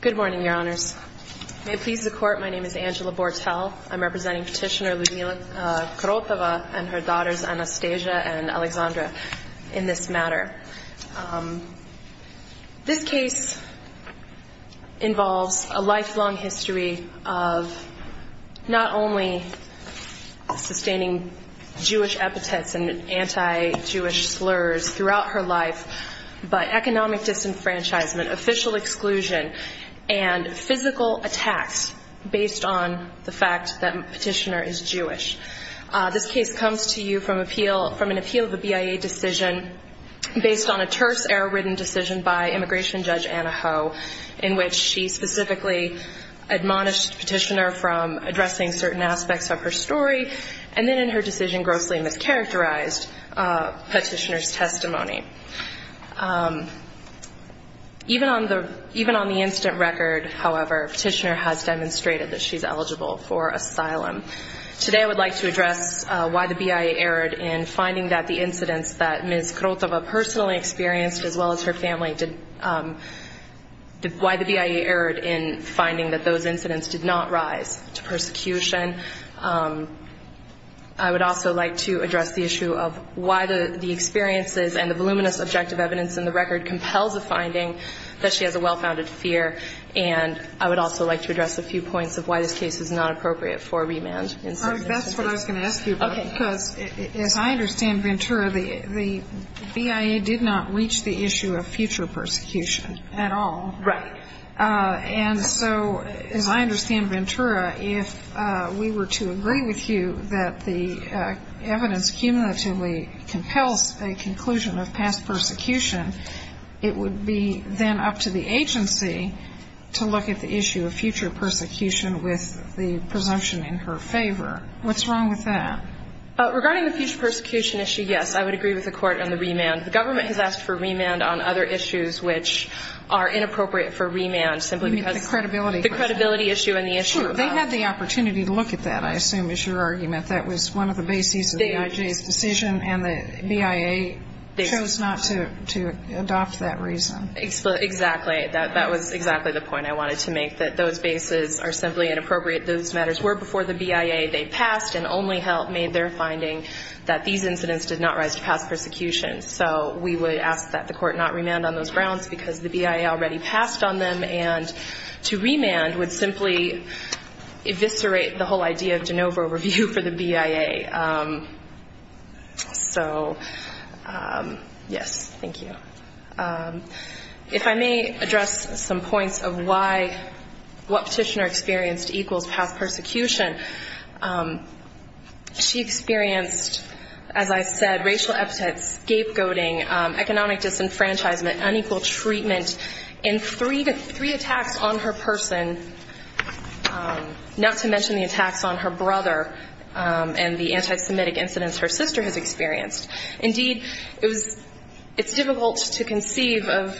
Good morning, Your Honors. May it please the Court, my name is Angela Bortel. I'm representing Petitioner Ludmila Krotova and her daughters Anastasia and Alexandra in this matter. This case involves a lifelong history of not only sustaining Jewish epithets and anti-Jewish slurs throughout her life by economic disenfranchisement, official exclusion, and physical attacks based on the fact that Petitioner is Jewish. This case comes to you from an appeal of a BIA decision based on a terse, error-ridden decision by Immigration Judge Anna Ho in which she specifically admonished Petitioner from addressing certain aspects of her story and then in her testimony. Even on the incident record, however, Petitioner has demonstrated that she's eligible for asylum. Today I would like to address why the BIA erred in finding that the incidents that Ms. Krotova personally experienced, as well as her family, why the BIA erred in finding that those incidents did not rise to persecution. I would also like to address the issue of why the experiences and the voluminous objective evidence in the record compels a finding that she has a well-founded fear. And I would also like to address a few points of why this case is not appropriate for remand. MS. KROTOVA That's what I was going to ask you about. Because as I understand, Ventura, the BIA did not reach the issue of future persecution at all. MS. KROTOVA Right. MS. KROTOVA And so as I understand, Ventura, if we were to agree with you that the evidence cumulatively compels a conclusion of past persecution, it would be then up to the agency to look at the issue of future persecution with the presumption in her favor. What's wrong with that? MS. KROTOVA Regarding the future persecution issue, yes, I would agree with the Court on the remand. The government has asked for remand on other issues which are inappropriate for remand simply because of the credibility issue and the issue of the law. MS. KROTOVA You mean the credibility question. Sure. They had the opportunity to look at that, I assume, is your argument. That was one of the bases of the BIA's decision and the BIA chose not to adopt that reason. MS. KROTOVA Exactly. That was exactly the point I wanted to make, that those bases are simply inappropriate. Those matters were before the BIA. They passed and only made their finding that these incidents did not rise to past persecution. So we would ask that the Court not remand on those grounds because the BIA already passed on them. To remand would simply eviscerate the whole idea of de novo review for the BIA. So, yes, thank you. If I may address some points of what Petitioner experienced equals past persecution, she experienced, as I said, racial epithets, scapegoating, economic disenfranchisement, unequal treatment and three attacks on her person, not to mention the attacks on her brother and the anti-Semitic incidents her sister has experienced. Indeed, it's difficult to conceive of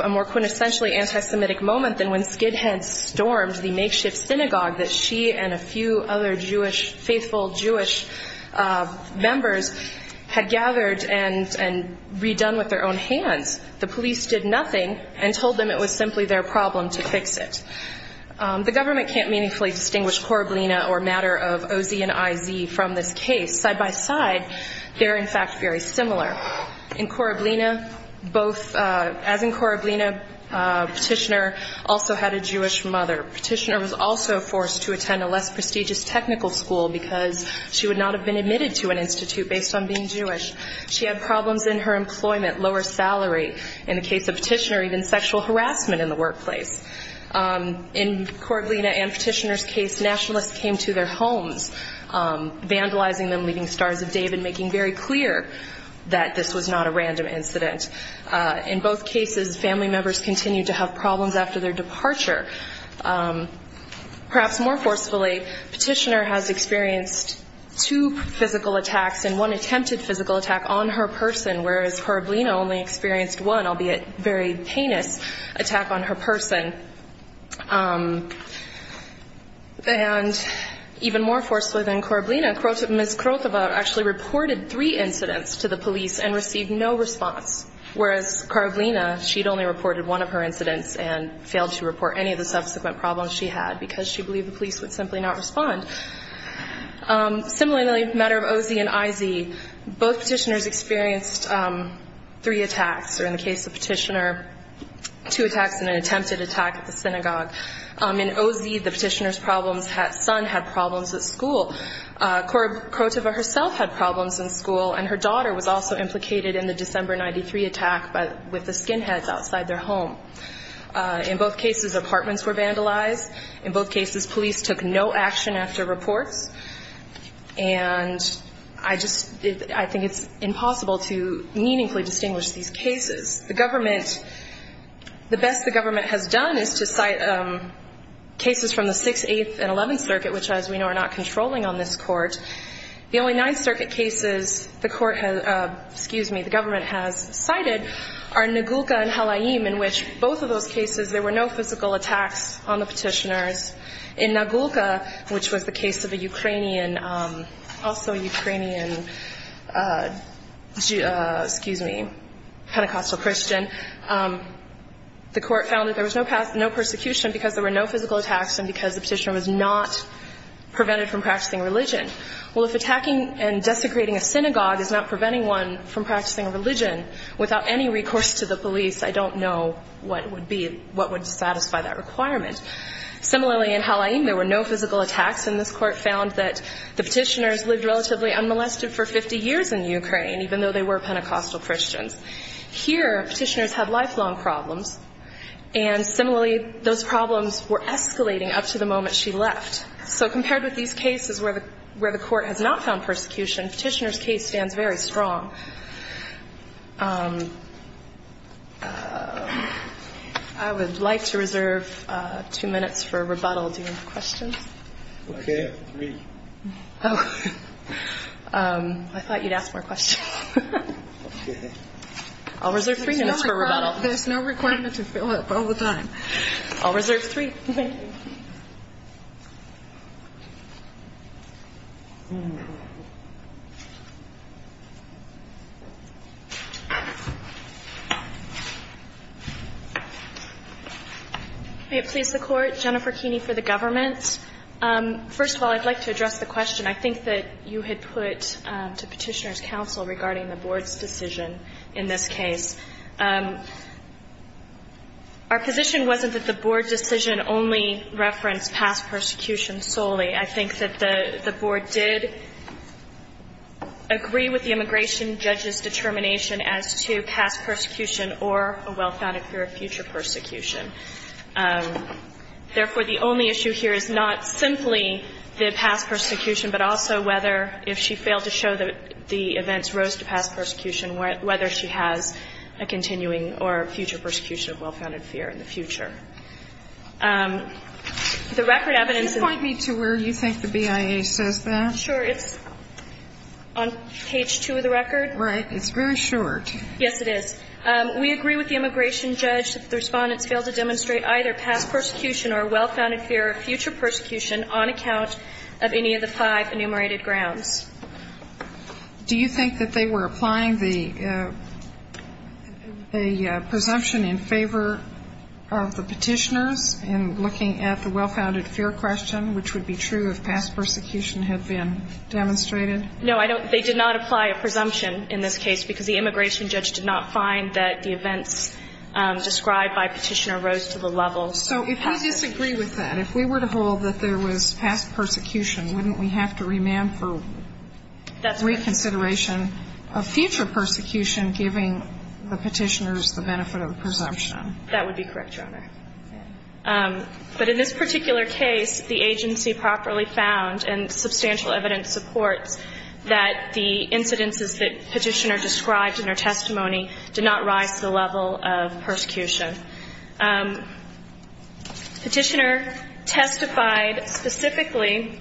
a more quintessentially anti-Semitic moment than when Skidhead stormed the makeshift synagogue that she and a few other Jewish, faithful Jewish members had gathered and redone with their own hands. The police did nothing and told them it was simply their problem to fix it. The government can't meaningfully distinguish Korablina or a matter of O.Z. and I.Z. from this case. Side by side, they're in fact very similar. In Korablina, both, as in Korablina, Petitioner also had a Jewish mother. Petitioner was also forced to attend a less prestigious technical school because she would not have been admitted to an institute based on being Jewish. She had problems in her employment, lower salary. In the case of Petitioner, even sexual harassment in the workplace. In Korablina and Petitioner's case, nationalists came to their homes, vandalizing them, leaving stars of David, making very clear that this was not a random incident. In both cases, family members continued to have problems after their departure. Perhaps more forcefully, Petitioner has experienced two physical attacks and one attempted physical attack on her person, whereas Korablina only experienced one, albeit very heinous, attack on her person. And even more forcefully than Korablina, Ms. Krotova actually reported three incidents to the police and received no response, whereas Korablina, she'd only reported one of her incidents and failed to report any of the subsequent problems she had because she believed the police would simply not respond. Similarly, in the matter of Ozy and Izy, both Petitioners experienced three attacks, or in the case of Petitioner, two attacks and an attempted attack at the synagogue. In Ozy, the Petitioner's son had problems at school. Korab, Krotova herself had problems in school, and her daughter was also implicated in the December 93 attack with the skinheads outside their home. In both cases, apartments were vandalized. In both cases, police took no action after reports. And I just, I think it's impossible to meaningfully distinguish these cases. The government, the best the government has done is to cite cases from the 6th, 8th, and 11th Circuit, which as we know are not controlling on this Court. The only 9th Circuit cases the Court has, excuse me, the government has cited are Nagulka and Halaim, in which both of those cases there were no physical attacks on the Petitioners. In Nagulka, which was the case of a Ukrainian, also Ukrainian, excuse me, Pentecostal Christian, the Court found that there was no persecution because there were no physical attacks and because the Petitioner was not prevented from practicing religion without any recourse to the police, I don't know what would be, what would satisfy that requirement. Similarly, in Halaim, there were no physical attacks, and this Court found that the Petitioners lived relatively unmolested for 50 years in Ukraine, even though they were Pentecostal Christians. Here, Petitioners had lifelong problems, and similarly, those problems were escalating up to the moment she left. So compared with these cases where the Court has not found persecution, Petitioner's case stands very strong. I would like to reserve two minutes for rebuttal. Do you have any questions? I have three. Oh. I thought you'd ask more questions. I'll reserve three minutes for rebuttal. There's no requirement to fill up all the time. I'll reserve three. May it please the Court. Jennifer Keeney for the government. First of all, I'd like to address the question I think that you had put to Petitioner's counsel regarding the Board's decision in this case. Our position wasn't that the Board decision only referenced past persecution solely. I think that the Board did agree with the immigration judge's determination as to past persecution or a well-founded fear of future persecution. Therefore, the only issue here is not simply the past persecution, but also whether if she failed to show that the events rose to past persecution, whether she has a continuing or future persecution of well-founded fear in the future. The record evidence of the board's decision in this case. Could you point me to where you think the BIA says that? Sure. It's on page 2 of the record. Right. It's very short. Yes, it is. We agree with the immigration judge that the Respondents failed to demonstrate either past persecution or well-founded fear of future persecution on account of any of the five enumerated grounds. Do you think that they were applying the presumption in favor of the Petitioner's in looking at the well-founded fear question, which would be true if past persecution had been demonstrated? No, they did not apply a presumption in this case because the immigration judge did not find that the events described by Petitioner rose to the level. So if we disagree with that, if we were to hold that there was past persecution, wouldn't we have to remand for reconsideration of future persecution, giving the Petitioners the benefit of the presumption? That would be correct, Your Honor. But in this particular case, the agency properly found, and substantial evidence supports, that the incidences that Petitioner described in her testimony did not rise to the level of persecution. Petitioner testified specifically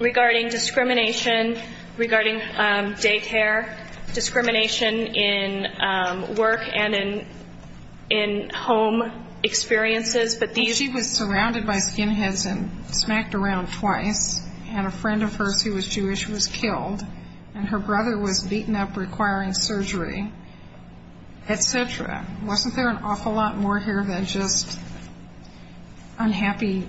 regarding discrimination regarding daycare, discrimination in work and in home experiences. But she was surrounded by skinheads and smacked around twice, and a friend of hers who was Jewish was killed, and her brother was beaten up requiring surgery, et cetera. Wasn't there an awful lot more here than just unhappy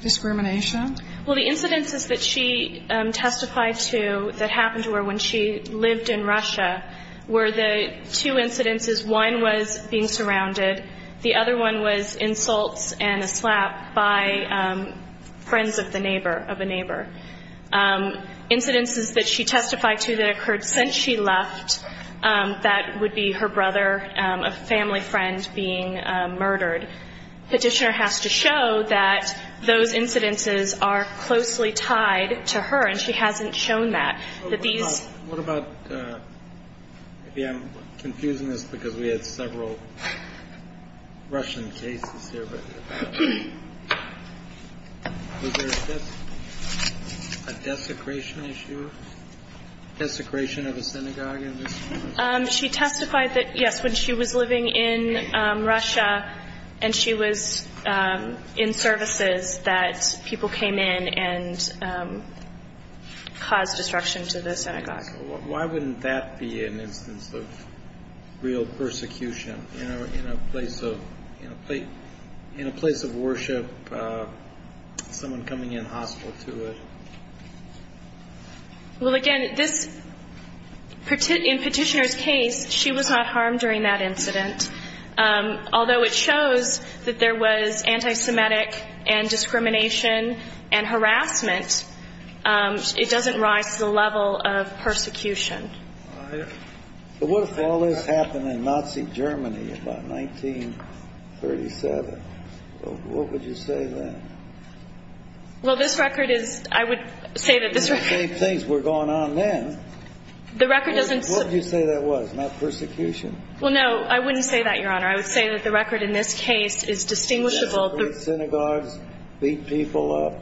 discrimination? Well, the incidences that she testified to that happened to her when she lived in Russia were the two incidences. One was being surrounded. The other one was insults and a slap by friends of a neighbor. Incidences that she testified to that occurred since she left, that would be her brother, a family friend being murdered. Petitioner has to show that those incidences are closely tied to her, and she hasn't shown that. What about, maybe I'm confusing this because we had several Russian cases here, but was there a desecration issue? Desecration of a synagogue? She testified that, yes, when she was living in Russia, and she was in services, that people came in and caused destruction to the synagogue. Why wouldn't that be an instance of real persecution? In a place of worship, someone coming in hostile to it? Well, again, in Petitioner's case, she was not harmed during that incident, although it shows that there was anti-Semitic and discrimination and harassment. It doesn't rise to the level of persecution. But what if all this happened in Nazi Germany about 1937? What would you say then? Well, this record is, I would say that this record... The same things were going on then. The record doesn't... What would you say that was, not persecution? Well, no, I wouldn't say that, Your Honor. I would say that the record in this case is distinguishable... Synagogues beat people up.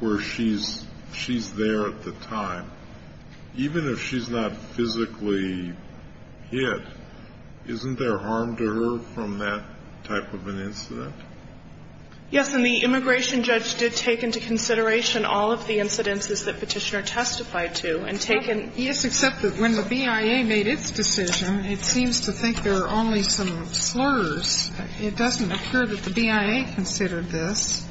...where she's there at the time. Even if she's not physically hit, isn't there harm to her from that type of an incident? Yes, and the immigration judge did take into consideration all of the incidences that Petitioner testified to and taken... Yes, except that when the BIA made its decision, it seems to think there are only some slurs It doesn't occur that the BIA considered this.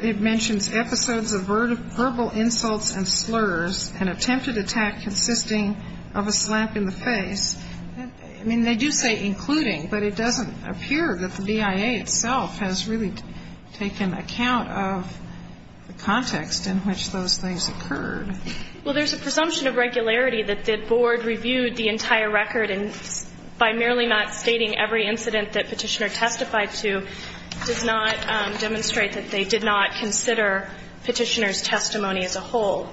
It mentions episodes of verbal insults and slurs and attempted attack consisting of a slap in the face. I mean, they do say including, but it doesn't appear that the BIA itself has really taken account of the context in which those things occurred. Well, there's a presumption of regularity that the Board reviewed the entire record by merely not stating every incident that Petitioner testified to does not demonstrate that they did not consider Petitioner's testimony as a whole.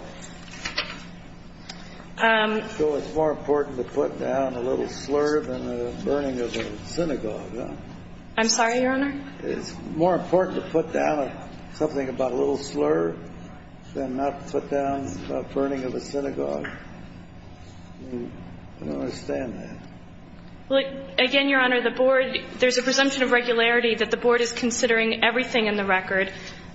So it's more important to put down a little slur than the burning of a synagogue, huh? I'm sorry, Your Honor? It's more important to put down something about a little slur than not put down the burning of a synagogue. I don't understand that. Well, again, Your Honor, the Board, there's a presumption of regularity that the Board is considering everything in the record,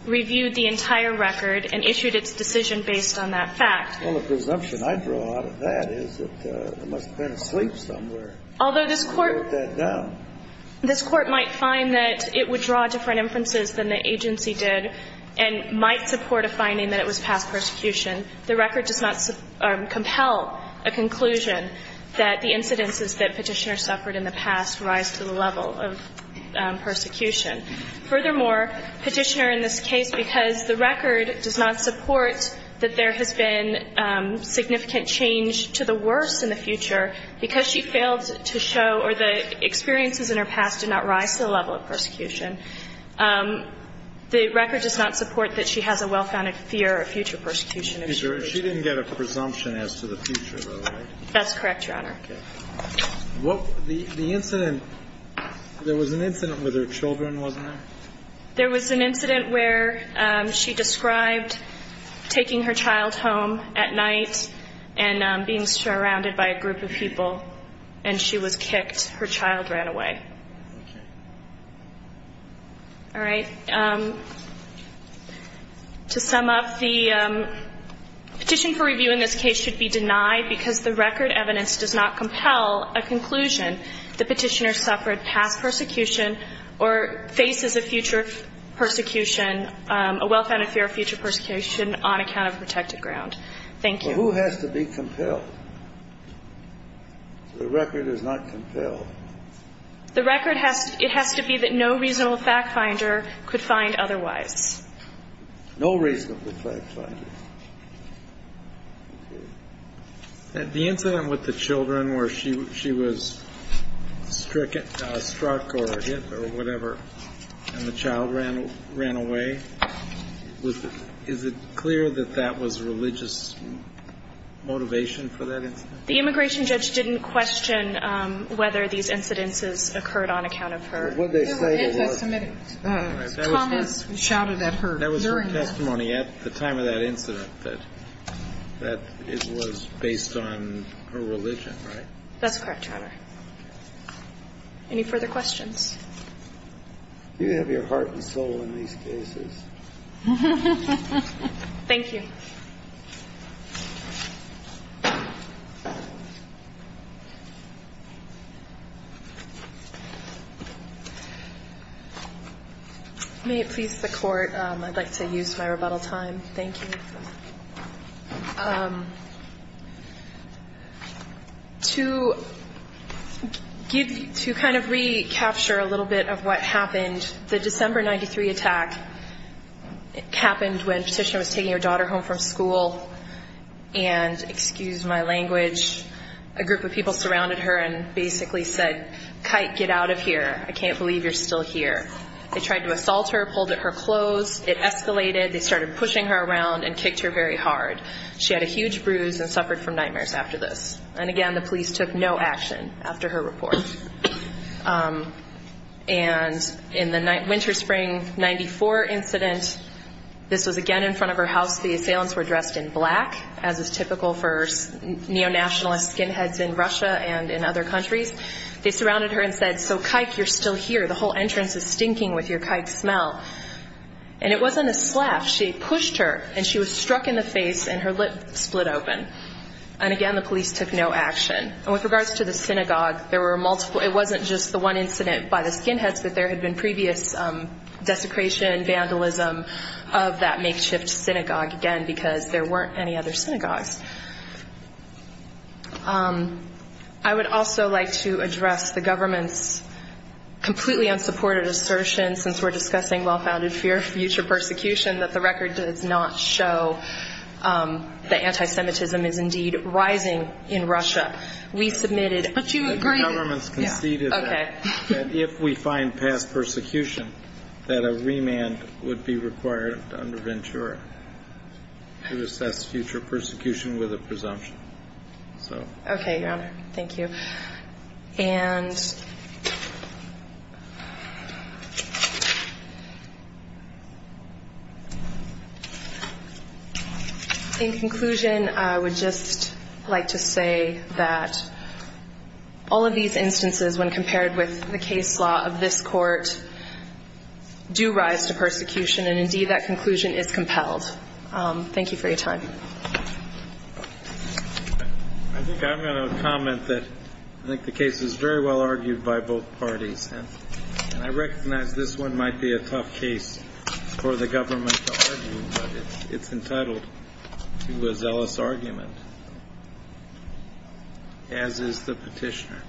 reviewed the entire record, and issued its decision based on that fact. Well, the presumption I draw out of that is that there must have been a sleep somewhere. Although this Court... Put that down. This Court might find that it would draw different inferences than the agency did and might support a finding that it was past persecution. The record does not compel a conclusion that the incidences that Petitioner suffered in the past rise to the level of persecution. Furthermore, Petitioner in this case, because the record does not support that there has been significant change to the worst in the future, because she failed to show or the experiences in her past did not rise to the level of persecution, the record does not support that she has a well-founded fear of future persecution. She didn't get a presumption as to the future, though, right? That's correct, Your Honor. Okay. What... The incident... There was an incident with her children, wasn't there? There was an incident where she described taking her child home at night and being surrounded by a group of people and she was kicked. Her child ran away. Okay. All right. To sum up, the petition for review in this case should be denied because the record evidence does not compel a conclusion that Petitioner suffered past persecution or faces a future persecution, a well-founded fear of future persecution on account of protected ground. Thank you. Well, who has to be compelled? The record is not compelled. The record has... It has to be that no reasonable fact-finder could find otherwise. No reasonable fact-finder. Okay. The incident with the children where she was struck or hit or whatever and the child ran away, is it clear that that was religious motivation for that incident? The immigration judge didn't question whether these incidences occurred on account of her... It was an anti-Semitic comment shouted at her during the... That was her testimony at the time of that incident that it was based on her religion, right? That's correct, Your Honor. Any further questions? You have your heart and soul in these cases. Thank you. May it please the Court, I'd like to use my rebuttal time. Thank you. To kind of recapture a little bit of what happened, the December 93 attack happened when Petitioner was taking her daughter home from school and, excuse my language, a group of people surrounded her and basically said, Kite, get out of here. I can't believe you're still here. They tried to assault her, pulled at her clothes, it escalated, they started pushing her around and kicked her very hard. She had a huge bruise and suffered from nightmares after this. And again, the police took no action after her report. And in the winter-spring 94 incident, this was again in front of her house, the assailants were dressed in black as is typical for neo-nationalist skinheads in Russia and in other countries. They surrounded her and said, So, Kite, you're still here. The whole entrance is stinking with your kite smell. And it wasn't a slap. She pushed her and she was struck in the face and her lip split open. And again, the police took no action. And with regards to the synagogue, it wasn't just the one incident by the skinheads but there had been previous desecration, vandalism of that makeshift synagogue again because there weren't any other synagogues. I would also like to address the government's completely unsupported assertion since we're discussing well-founded fear of future persecution that the record does not show the anti-Semitism is indeed rising in Russia. We submitted... But you agree... The government's conceded that if we find past persecution that a remand would be required under Ventura to assess future persecution with a presumption. Okay, Your Honor. Thank you. And... In conclusion, I would just like to say that all of these instances when compared with the case law of this court do rise to persecution and indeed that conclusion is compelled. Thank you for your time. I think I'm going to comment that I think the case is very well argued by both parties and I recognize this one might be a tough case for the government to argue but it's entitled to a zealous argument as is the petitioner.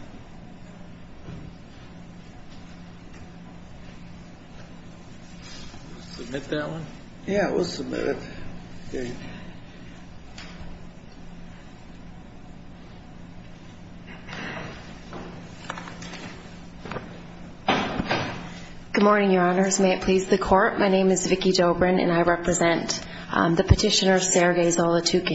Submit that one? Yeah, we'll submit it. Thank you. Good morning, Your Honors. May it please the Court. My name is Vicki Dobrin and I represent the petitioner Sergei Zolotukhin.